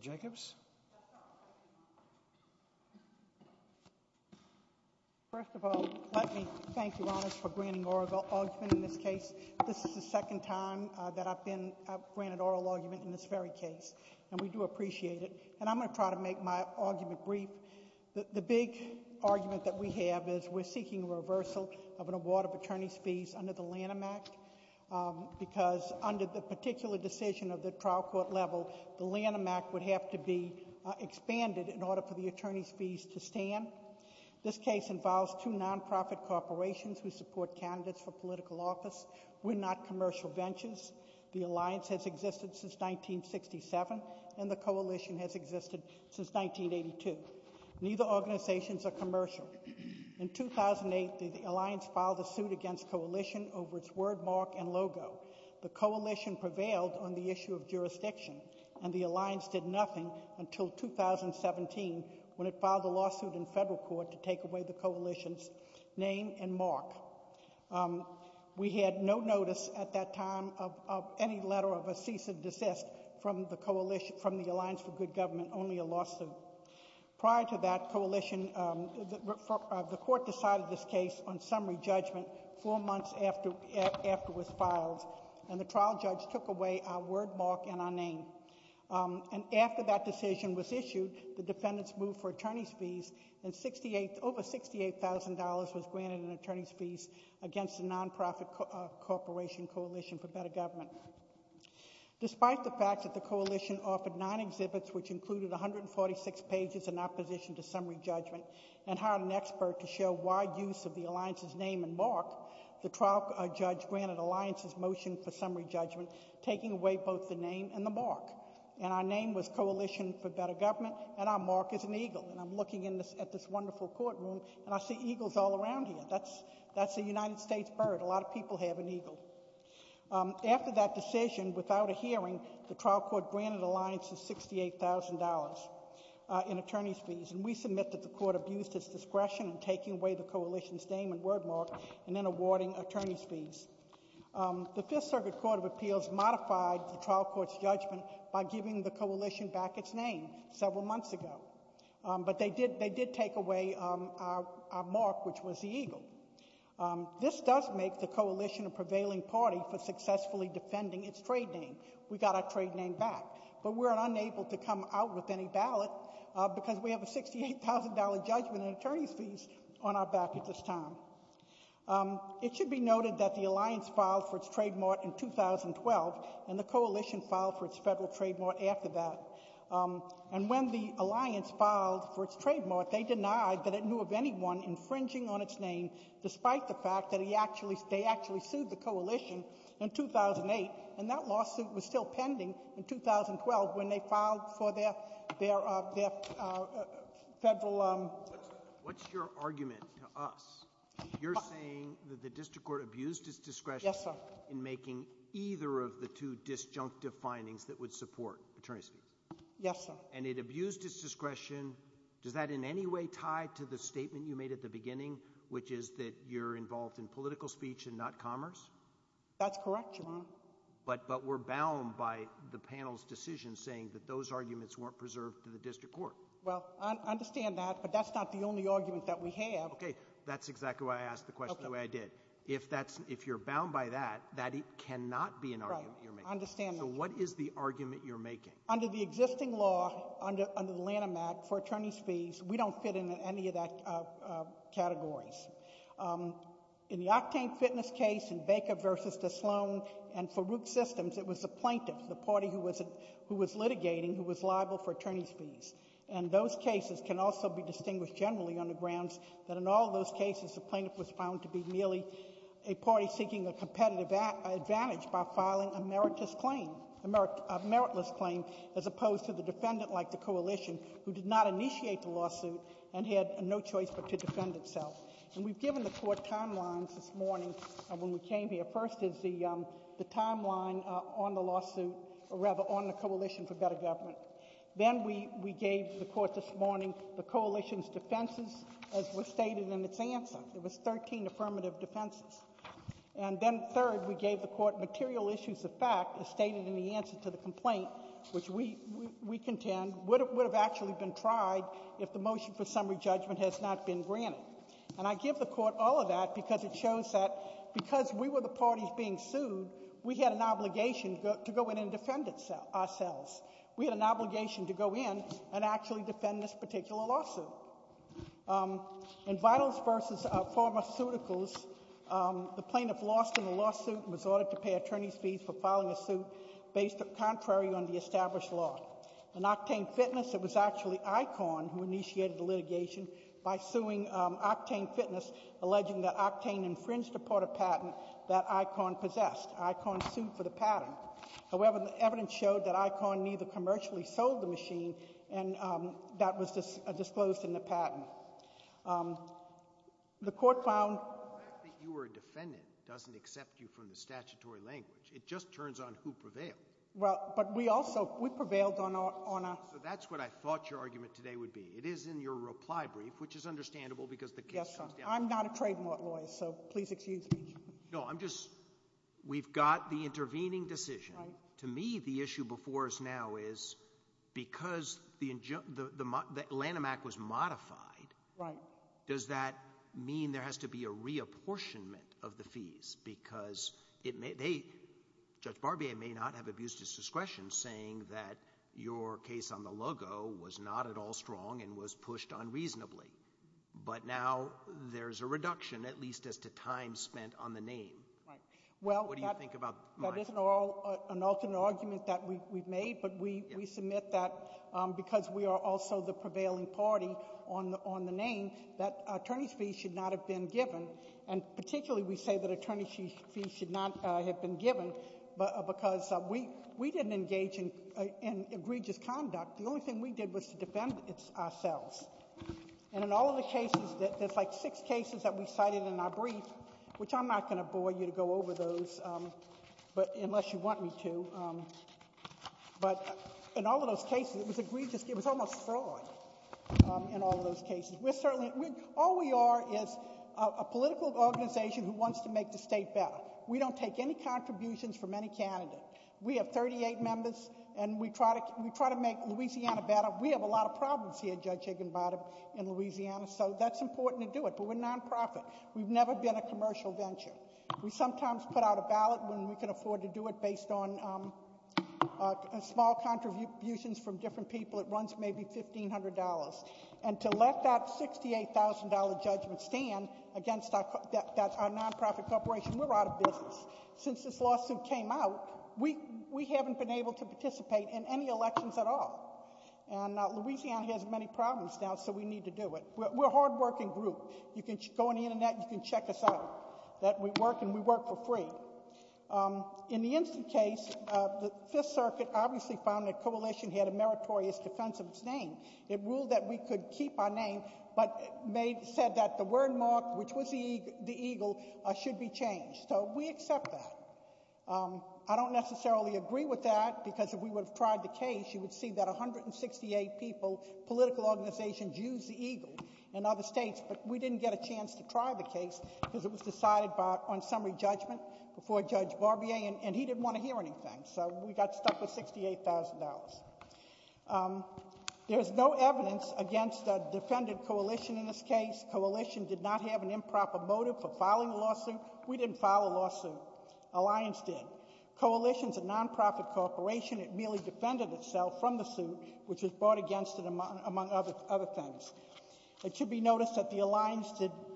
Jacobs. First of all, let me thank you, Your Honors, for granting oral argument in this case. This is the second time that I've been granted oral argument in this very case, and we do appreciate it. And I'm going to try to make my argument brief. The big argument that we have is we're seeking reversal of an award of attorney's fees under the Lanham Act, because under the particular decision of the trial court level, the Lanham Act would have to be expanded in order for the attorney's fees to stand. This case involves two non-profit corporations who support candidates for political office. We're not commercial ventures. The alliance has existed since 1967, and the coalition has existed since 1982. Neither organizations are commercial. In 2008, the alliance filed a suit against coalition over its wordmark and logo. The coalition prevailed on the issue of jurisdiction, and the alliance did nothing until 2017 when it filed a lawsuit in federal court to take away the coalition's name and mark. We had no notice at that time of any letter of a cease and desist from the alliance for good government, only a lawsuit. Prior to that, the court decided this case on summary judgment four months after it was filed, and the trial judge took away our wordmark and our name. After that decision was issued, the defendants moved for attorney's fees, and over $68,000 was granted in attorney's fees against a non-profit corporation coalition for better government. Despite the fact that the coalition offered nine exhibits, which included 146 pages in opposition to summary judgment, and hired an expert to show wide use of the alliance's name and mark, the trial judge granted the alliance's motion for summary judgment, taking away both the name and the mark, and our name was Coalition for Better Government, and our mark is an eagle. And I'm looking at this wonderful courtroom, and I see eagles all around here. That's a United States bird. A lot of people have an eagle. After that decision, without a hearing, the trial court granted the alliance $68,000 in attorney's fees, and we submit that the court abused its discretion in taking away the coalition's name and wordmark, and then awarding attorney's fees. The Fifth Circuit Court of Appeals modified the trial court's judgment by giving the coalition back its name several months ago, but they did take away our mark, which was the eagle. This does make the coalition a prevailing party for successfully defending its trade name. We got our trade name back, but we're unable to come out with any ballot because we have $68,000 judgment and attorney's fees on our back at this time. It should be noted that the alliance filed for its trademark in 2012, and the coalition filed for its federal trademark after that. And when the alliance filed for its trademark, they denied that it knew of anyone infringing on its name, despite the fact that they actually sued the coalition in 2008, and that lawsuit was still pending in 2012 when they filed for their federal... What's your argument to us? You're saying that the district court abused its discretion in making either of the two disjunctive findings that would support attorney's fees? Yes, sir. And it abused its discretion. Does that in any way tie to the statement you made at the beginning, which is that you're involved in political speech and not commerce? That's correct, Your Honor. But we're bound by the panel's decision saying that those arguments weren't preserved to the district court. Well, I understand that, but that's not the only argument that we have. Okay. That's exactly why I asked the question the way I did. If that's... If you're bound by that, that cannot be an argument you're making. Right. I understand that. So what is the argument you're making? Under the existing law, under the Lanham Act, for attorney's fees, we don't fit into any of that categories. In the Octane Fitness case, in Baker v. DeSloan, and for Root Systems, it was the plaintiff, the party who was litigating, who was liable for attorney's fees. And those cases can also be distinguished generally on the grounds that in all those cases, the plaintiff was found to be merely a party seeking a competitive advantage by filing a meritless claim, as opposed to the defendant, like the coalition, who did not And we've given the court timelines this morning when we came here. First is the timeline on the lawsuit, or rather, on the coalition for better government. Then we gave the court this morning the coalition's defenses, as was stated in its answer. There was 13 affirmative defenses. And then third, we gave the court material issues of fact, as stated in the answer to the complaint, which we contend would have actually been tried if the motion for summary judgment has not been granted. And I give the court all of that because it shows that because we were the parties being sued, we had an obligation to go in and defend ourselves. We had an obligation to go in and actually defend this particular lawsuit. In Vitals v. Pharmaceuticals, the plaintiff lost in the lawsuit and was ordered to pay attorney's fees for filing a suit based contrary on the established law. In Octane Fitness, it was actually Icon who initiated the litigation by suing Octane Fitness, alleging that Octane infringed a part of patent that Icon possessed. Icon sued for the patent. However, the evidence showed that Icon neither commercially sold the machine, and that was disclosed in the patent. The court found- The fact that you were a defendant doesn't accept you from the statutory language. It just turns on who prevailed. Well, but we also, we prevailed on a- So that's what I thought your argument today would be. It is in your reply brief, which is understandable because the case comes down- Yes, sir. I'm not a trademark lawyer, so please excuse me. No, I'm just, we've got the intervening decision. To me, the issue before us now is because the Lanham Act was modified. Right. Does that mean there has to be a reapportionment of the fees? Because it may, they, Judge Barbier may not have abused his discretion saying that your case on the logo was not at all strong and was pushed unreasonably. But now there's a reduction, at least as to time spent on the name. Right. Well, that- What do you think about my- That isn't all an alternate argument that we've made, but we submit that, because we are also the prevailing party on the name, that attorney's fees should not have been given. And particularly, we say that attorney's fees should not have been given because we didn't engage in egregious conduct. The only thing we did was to defend ourselves. And in all of the cases, there's like six cases that we cited in our brief, which I'm not going to bore you to go over those, but unless you want me to. But in all of those cases, it was egregious, it was almost fraud in all of those cases. We're certainly, all we are is a political organization who wants to make the state better. We don't take any contributions from any candidate. We have 38 members, and we try to make Louisiana better. We have a lot of problems here, Judge Higginbottom, in Louisiana, so that's important to do it, but we're non-profit. We've never been a commercial venture. We sometimes put out a ballot when we can afford to do it based on small contributions from different people. It runs maybe $1,500, and to let that $68,000 judgment stand against our non-profit corporation, we're out of business. Since this lawsuit came out, we haven't been able to participate in any elections at all. And Louisiana has many problems now, so we need to do it. We're a hardworking group. You can go on the internet, you can check us out, that we work, and we work for free. In the instant case, the Fifth Circuit obviously found that coalition had a meritorious defense of its name. It ruled that we could keep our name, but said that the word mark, which was the eagle, should be changed. So we accept that. I don't necessarily agree with that, because if we would have tried the case, you would see that 168 people, political organizations, use the eagle in other states. But we didn't get a chance to try the case, because it was decided on summary judgment before Judge Barbier, and he didn't want to hear anything. So we got stuck with $68,000. There's no evidence against a defended coalition in this case. Coalition did not have an improper motive for filing a lawsuit. We didn't file a lawsuit. Alliance did. Coalition's a non-profit corporation. It merely defended itself from the suit, which was brought against it, among other things. It should be noticed that the Alliance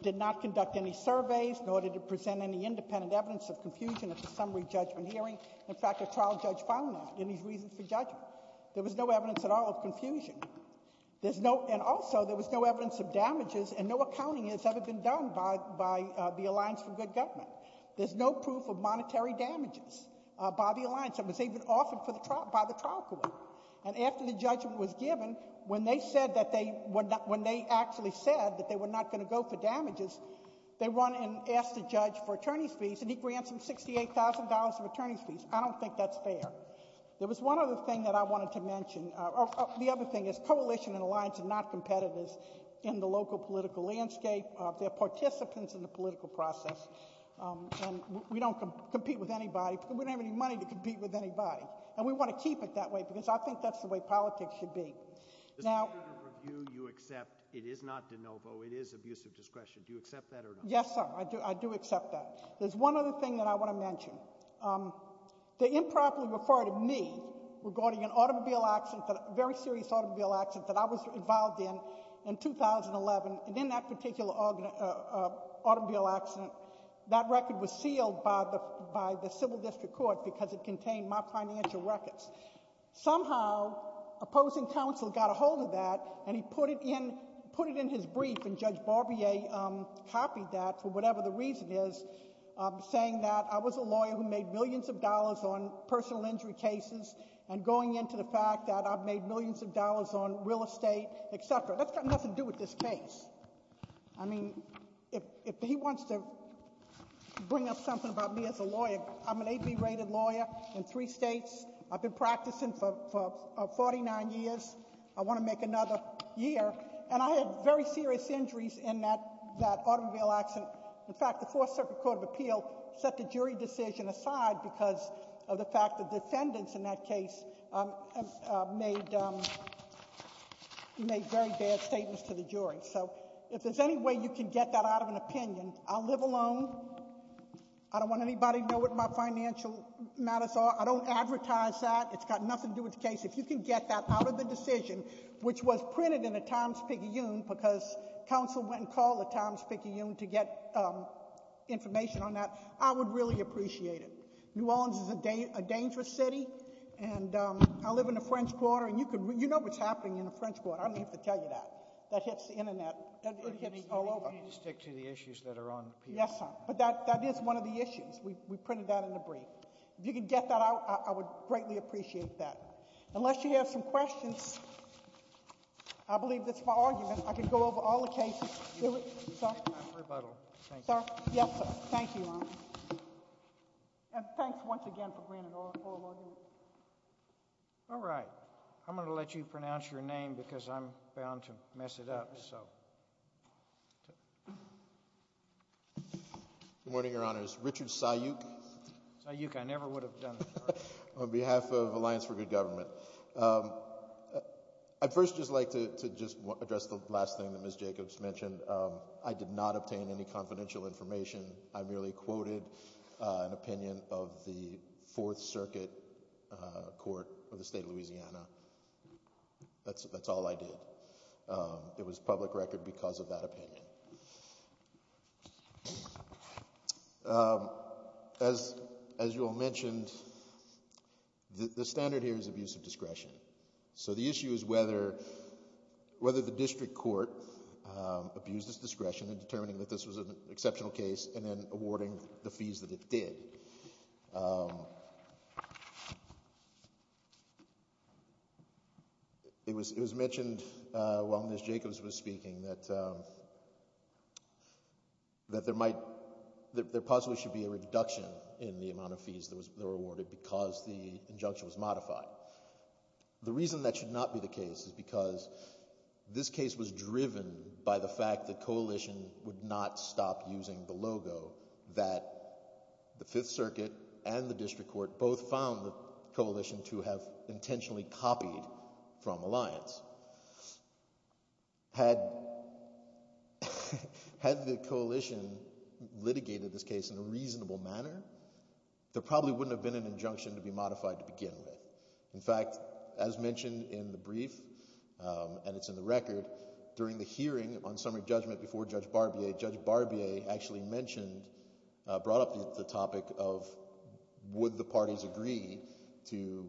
did not conduct any surveys, nor did it present any independent evidence of confusion at the summary judgment hearing. In fact, a trial judge found that in his reasons for judgment. There was no evidence at all of confusion. There's no, and also, there was no evidence of damages, and no accounting has ever been done by the Alliance for Good Government. There's no proof of monetary damages by the Alliance. It was even offered by the trial court. And after the judgment was given, when they actually said that they were not going to go for damages, they went and asked the judge for attorney's fees, and he grants them $68,000 of attorney's fees. I don't think that's fair. There was one other thing that I wanted to mention. The other thing is, Coalition and Alliance are not competitors in the local political landscape. They're participants in the political process, and we don't compete with anybody, and we don't have any money to compete with anybody. And we want to keep it that way, because I think that's the way politics should be. Now- The standard of review you accept, it is not de novo, it is abusive discretion. Do you accept that or not? Yes, sir, I do accept that. There's one other thing that I want to mention. The improperly referred to me, regarding an automobile accident, very serious automobile accident that I was involved in in 2011, and in that particular automobile accident, that record was sealed by the civil district court because it contained my financial records. Somehow, opposing counsel got a hold of that, and he put it in his brief, and Judge Barbier copied that for whatever the reason is, saying that I was a lawyer who made millions of dollars on personal injury cases, and going into the fact that I've made millions of dollars on real estate, etc. That's got nothing to do with this case. I mean, if he wants to bring up something about me as a lawyer, I'm an AB rated lawyer in three states. I've been practicing for 49 years. I want to make another year, and I had very serious injuries in that automobile accident. In fact, the Fourth Circuit Court of Appeal set the jury decision aside because of the fact that the defendants in that case made very bad statements to the jury. So, if there's any way you can get that out of an opinion, I'll live alone. I don't want anybody to know what my financial matters are. I don't advertise that. It's got nothing to do with the case. If you can get that out of the decision, which was printed in the Times-Picayune, because counsel went and called the Times-Picayune to get information on that, I would really appreciate it. New Orleans is a dangerous city, and I live in the French Quarter, and you know what's happening in the French Quarter. I don't even have to tell you that. That hits the internet. It hits all over. You need to stick to the issues that are on appeal. Yes, sir. But that is one of the issues. We printed that in the brief. If you can get that out, I would greatly appreciate that. Unless you have some questions, I believe that's my argument. I could go over all the cases. You can take that for rebuttal. Thank you. Yes, sir. Thank you, Your Honor. And thanks once again for bringing it all forward. All right. I'm going to let you pronounce your name, because I'm bound to mess it up, so. Good morning, Your Honors. Richard Syuk. Syuk, I never would have done that. On behalf of Alliance for Good Government. I'd first just like to just address the last thing that Ms. Jacobs mentioned. I did not obtain any confidential information. I merely quoted an opinion of the Fourth Circuit court of the state of Louisiana. That's all I did. It was public record because of that opinion. As you all mentioned, the standard here is abuse of discretion. So the issue is whether the district court abused its discretion in determining that this was an exceptional case and then awarding the fees that it did. It was mentioned while Ms. Jacobs was speaking that there possibly should be a reduction in the amount of fees that were awarded because the injunction was modified. The reason that should not be the case is because this case was driven by the fact that coalition would not stop using the logo that the Fifth Circuit and the district court both found the coalition to have intentionally copied from Alliance. Had the coalition litigated this case in a reasonable manner, there probably wouldn't have been an injunction to be modified to begin with. In fact, as mentioned in the brief, and it's in the record, during the hearing on summary judgment before Judge Barbier, Judge Barbier actually mentioned, brought up the topic of would the parties agree to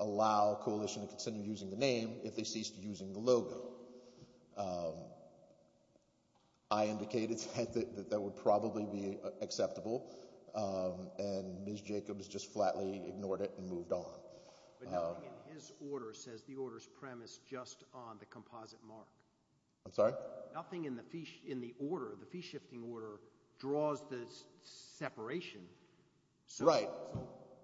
allow coalition to continue using the name if they ceased using the logo. I indicated that that would probably be acceptable. And Ms. Jacobs just flatly ignored it and moved on. But nothing in his order says the order's premise just on the composite mark. I'm sorry? Nothing in the order, the fee-shifting order, draws the separation. Right.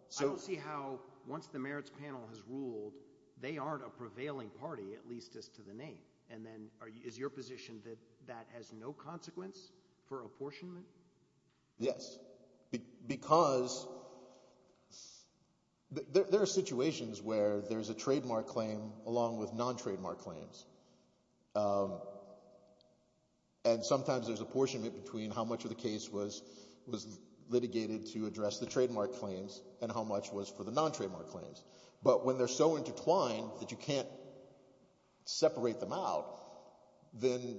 So I don't see how, once the merits panel has ruled, they aren't a prevailing party, at least as to the name. And then is your position that that has no consequence for apportionment? Yes, because there are situations where there's a trademark claim, along with non-trademark claims. And sometimes there's apportionment between how much of the case was litigated to address the trademark claims and how much was for the non-trademark claims. But when they're so intertwined that you can't separate them out, then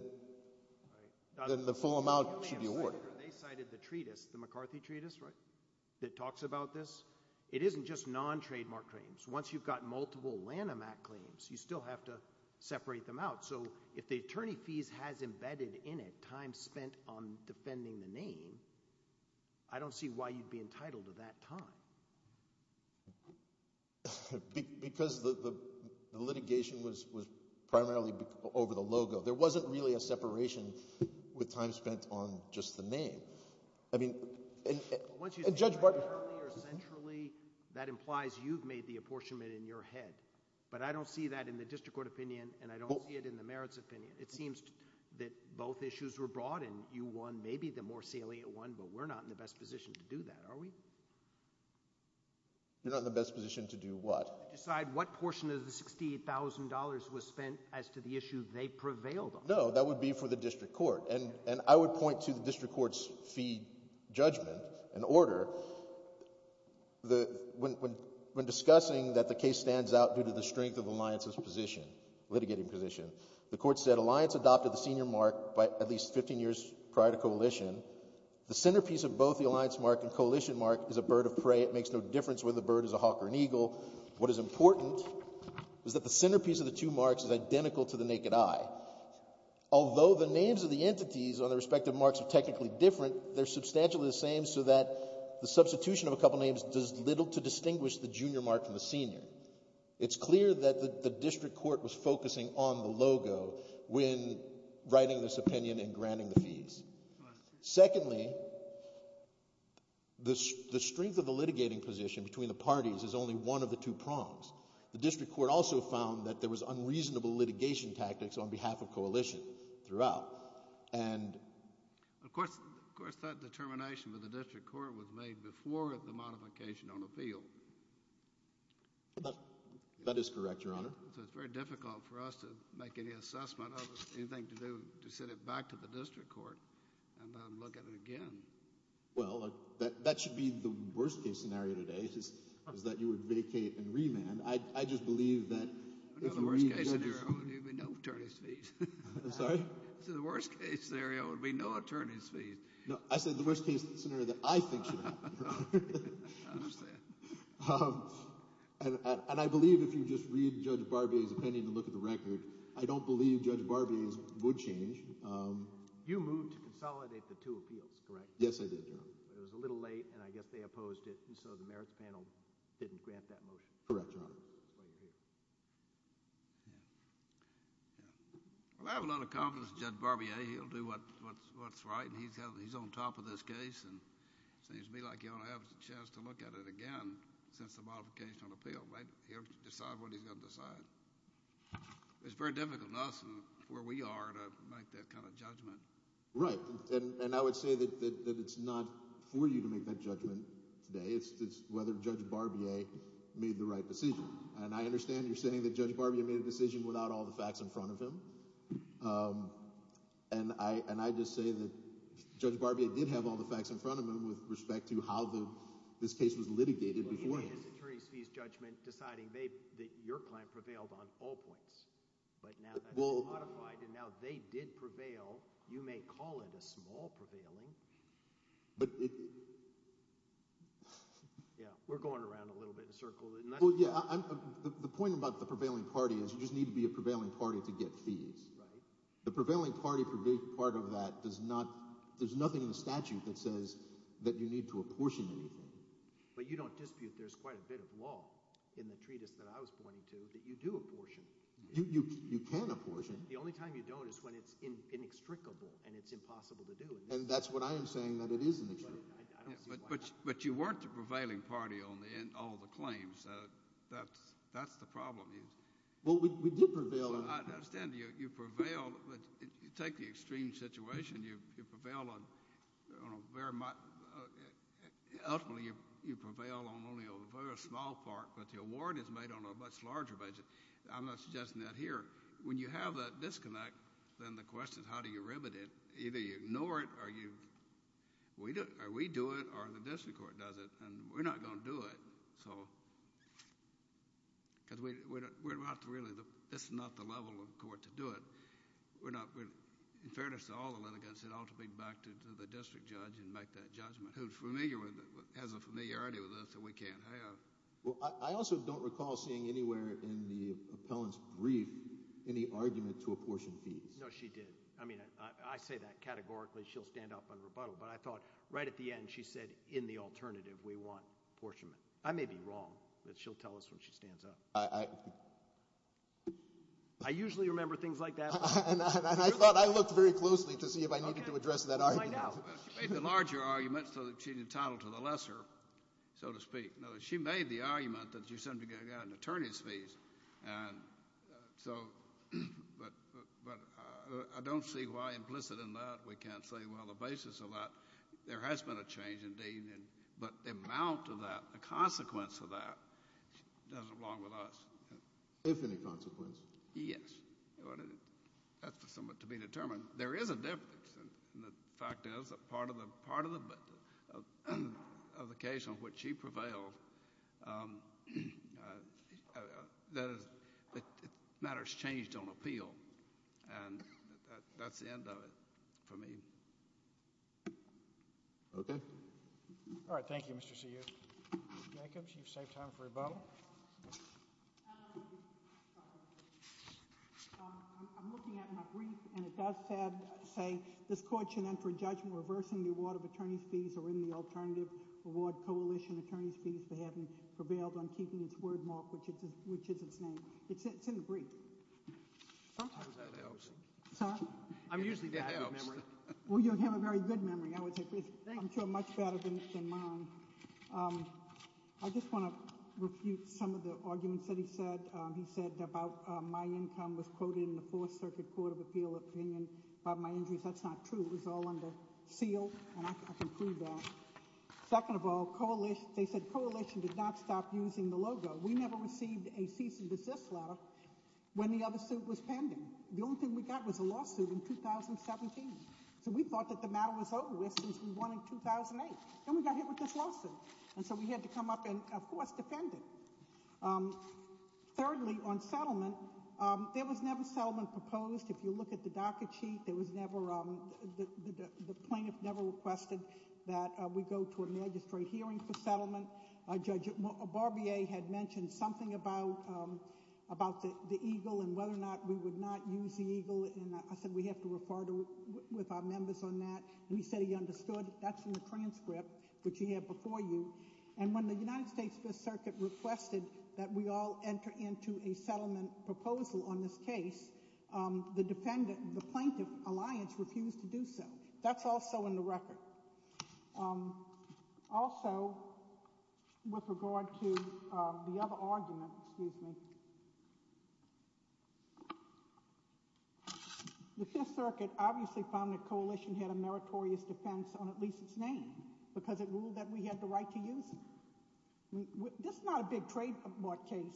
the full amount should be awarded. They cited the treatise, the McCarthy treatise, right, that talks about this. It isn't just non-trademark claims. Once you've got multiple Lanham Act claims, you still have to separate them out. So if the attorney fees has embedded in it time spent on defending the name, I don't see why you'd be entitled to that time. Because the litigation was primarily over the logo. There wasn't really a separation with time spent on just the name. I mean, and Judge Barber. ...centrally, that implies you've made the apportionment in your head. But I don't see that in the district court opinion, and I don't see it in the merits opinion. It seems that both issues were brought in. You won maybe the more salient one, but we're not in the best position to do that, are we? You're not in the best position to do what? Decide what portion of the $68,000 was spent as to the issue they prevailed on. No, that would be for the district court. And I would point to the district court's fee judgment and order. When discussing that the case stands out due to the strength of the alliance's position, litigating position, the court said alliance adopted the senior mark by at least 15 years prior to coalition. The centerpiece of both the alliance mark and coalition mark is a bird of prey. It makes no difference whether the bird is a hawk or an eagle. What is important is that the centerpiece of the two marks is identical to the naked eye. Although the names of the entities on the respective marks are technically different, they're substantially the same so that the substitution of a couple names does little to distinguish the junior mark from the senior. It's clear that the district court was focusing on the logo when writing this opinion and granting the fees. Secondly, the strength of the litigating position between the parties is only one of the two prongs. The district court also found that there was unreasonable litigation tactics on behalf of coalition throughout. And... Of course, that determination with the district court was made before the modification on appeal. That is correct, Your Honor. So it's very difficult for us to make any assessment of anything to do to send it back to the district court and then look at it again. Well, that should be the worst-case scenario today, is that you would vacate and remand. I just believe that... The worst-case scenario would be no attorney's fees. Sorry? I said the worst-case scenario would be no attorney's fees. No, I said the worst-case scenario that I think should happen. I understand. And I believe if you just read Judge Barbier's opinion and look at the record, I don't believe Judge Barbier's would change. You moved to consolidate the two appeals, correct? Yes, I did, Your Honor. But it was a little late and I guess they opposed it and so the merits panel didn't grant that motion. Correct, Your Honor. Well, I have a lot of confidence in Judge Barbier. He'll do what's right and he's on top of this case and it seems to me like he'll have a chance to look at it again since the modification of the appeal. He'll decide what he's gonna decide. It's very difficult for us and where we are to make that kind of judgment. Right, and I would say that it's not for you to make that judgment today. It's whether Judge Barbier made the right decision. And I understand you're saying that Judge Barbier made a decision without all the facts in front of him. And I just say that Judge Barbier did have all the facts in front of him with respect to how this case was litigated beforehand. Well, he made his attorney's fees judgment deciding that your client prevailed on all points. But now that it's modified and now they did prevail, you may call it a small prevailing. Yeah, we're going around a little bit in a circle. Well, yeah, the point about the prevailing party is you just need to be a prevailing party to get fees. The prevailing party for a big part of that does not, there's nothing in the statute that says that you need to apportion anything. But you don't dispute there's quite a bit of law in the treatise that I was pointing to that you do apportion. You can apportion. The only time you don't is when it's inextricable and it's impossible to do. And that's what I am saying that it is inextricable. But you weren't the prevailing party on all the claims. That's the problem. Well, we did prevail on it. I understand you prevailed, but you take the extreme situation, you prevail on very much, ultimately you prevail on only a very small part, but the award is made on a much larger basis. I'm not suggesting that here. When you have that disconnect, then the question is how do you remedy it? Either you ignore it, or we do it, or the district court does it. And we're not going to do it, because we're not really, that's not the level of court to do it. In fairness to all the litigants, it ought to be back to the district judge and make that judgment, who has a familiarity with this that we can't have. Well, I also don't recall seeing anywhere in the appellant's brief any argument to apportion fees. No, she did. I say that categorically, she'll stand up and rebuttal, but I thought right at the end, she said, in the alternative, we want apportionment. I may be wrong, but she'll tell us when she stands up. I usually remember things like that. And I thought I looked very closely to see if I needed to address that argument. She made the larger argument so that she's entitled to the lesser, so to speak. She made the argument that she's going to get an attorney's But I don't see why implicit in that we can't say, well, the basis of that, there has been a change, indeed. But the amount of that, the consequence of that, doesn't belong with us. If any consequence. Yes. That's somewhat to be determined. There is a difference, and the fact is that part of the case on which she prevailed, that matters changed on appeal. And that's the end of it for me. All right, thank you, Mr. C. Jacobs. You've saved time for rebuttal. I'm looking at my brief, and it does say, this court should enter a judgment reversing the award of attorney's fees or in the alternative award coalition attorney's fees for having prevailed on keeping its word mark, which is its name. It's in the brief. That helps. I'm usually that helps. Well, you have a very good memory, I would say. I'm sure much better than mine. I just want to refute some of the arguments that he said. He said about my income was quoted in the Fourth Circuit Court of Appeal opinion about my injuries. That's not true. It was all under seal, and I can prove that. Second of all, they said coalition did not stop using the logo. We never received a cease and desist letter when the other suit was pending. The only thing we got was a lawsuit in 2017. So we thought that the matter was over with since we won in 2008. Then we got hit with this lawsuit. And so we had to come up and, of course, defend it. Thirdly, on settlement, there was never settlement proposed. If you look at the docket sheet, the plaintiff never requested that we go to a magistrate hearing for settlement. Judge Barbier had mentioned something about the eagle and whether or not we would not use the eagle. And I said we have to refer with our members on that. We said he understood. That's in the transcript, which he had before you. And when the United States Fifth Circuit requested that we all enter into a settlement proposal on this case, the plaintiff alliance refused to do so. That's also in the record. Also, with regard to the other argument, the Fifth Circuit obviously found the coalition had a meritorious defense on at least its name because it ruled that we had the right to use it. This is not a big trademark case.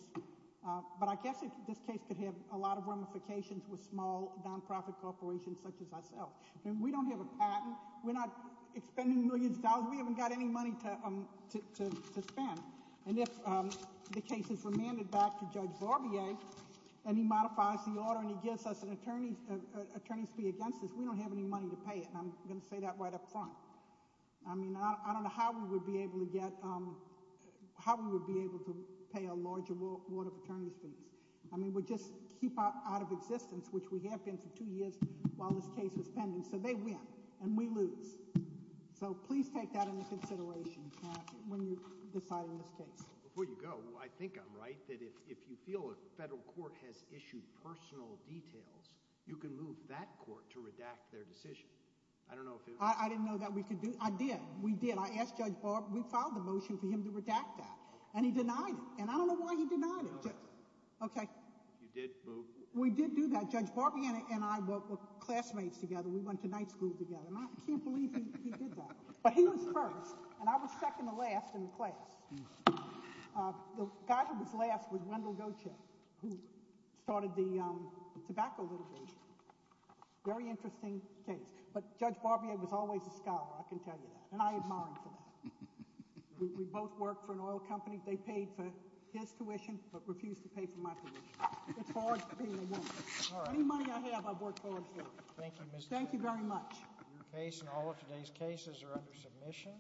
But I guess this case could have a lot of ramifications with small nonprofit corporations such as ourselves. We don't have a patent. We're not expending millions of dollars. We haven't got any money to spend. And if the case is remanded back to Judge Barbier and he modifies the order and he gives us an attorney's fee against this, we don't have any money to pay it. And I'm going to say that right up front. I mean, I don't know how we would be able to get, how we would be able to pay a large award of attorney's fees. I mean, we just keep out of existence, which we have been for two years while this case was going, so they win and we lose. So please take that into consideration when you're deciding this case. Before you go, I think I'm right, that if you feel a federal court has issued personal details, you can move that court to redact their decision. I don't know if it was. I didn't know that we could do, I did, we did. I asked Judge Barb, we filed a motion for him to redact that and he denied it. And I don't know why he denied it. Okay. You did move. We did do that. Judge Barbier and I were classmates together. We went to night school together and I can't believe he did that. But he was first and I was second to last in the class. The guy who was last was Wendell Goetje, who started the tobacco litigation. Very interesting case. But Judge Barbier was always a scholar, I can tell you that. And I admired him for that. We both worked for an oil company. They paid for his tuition, but refused to pay for my tuition. It's hard being a woman. Any money I have, I've worked hard for it. Thank you very much. Your case and all of today's cases are under submission.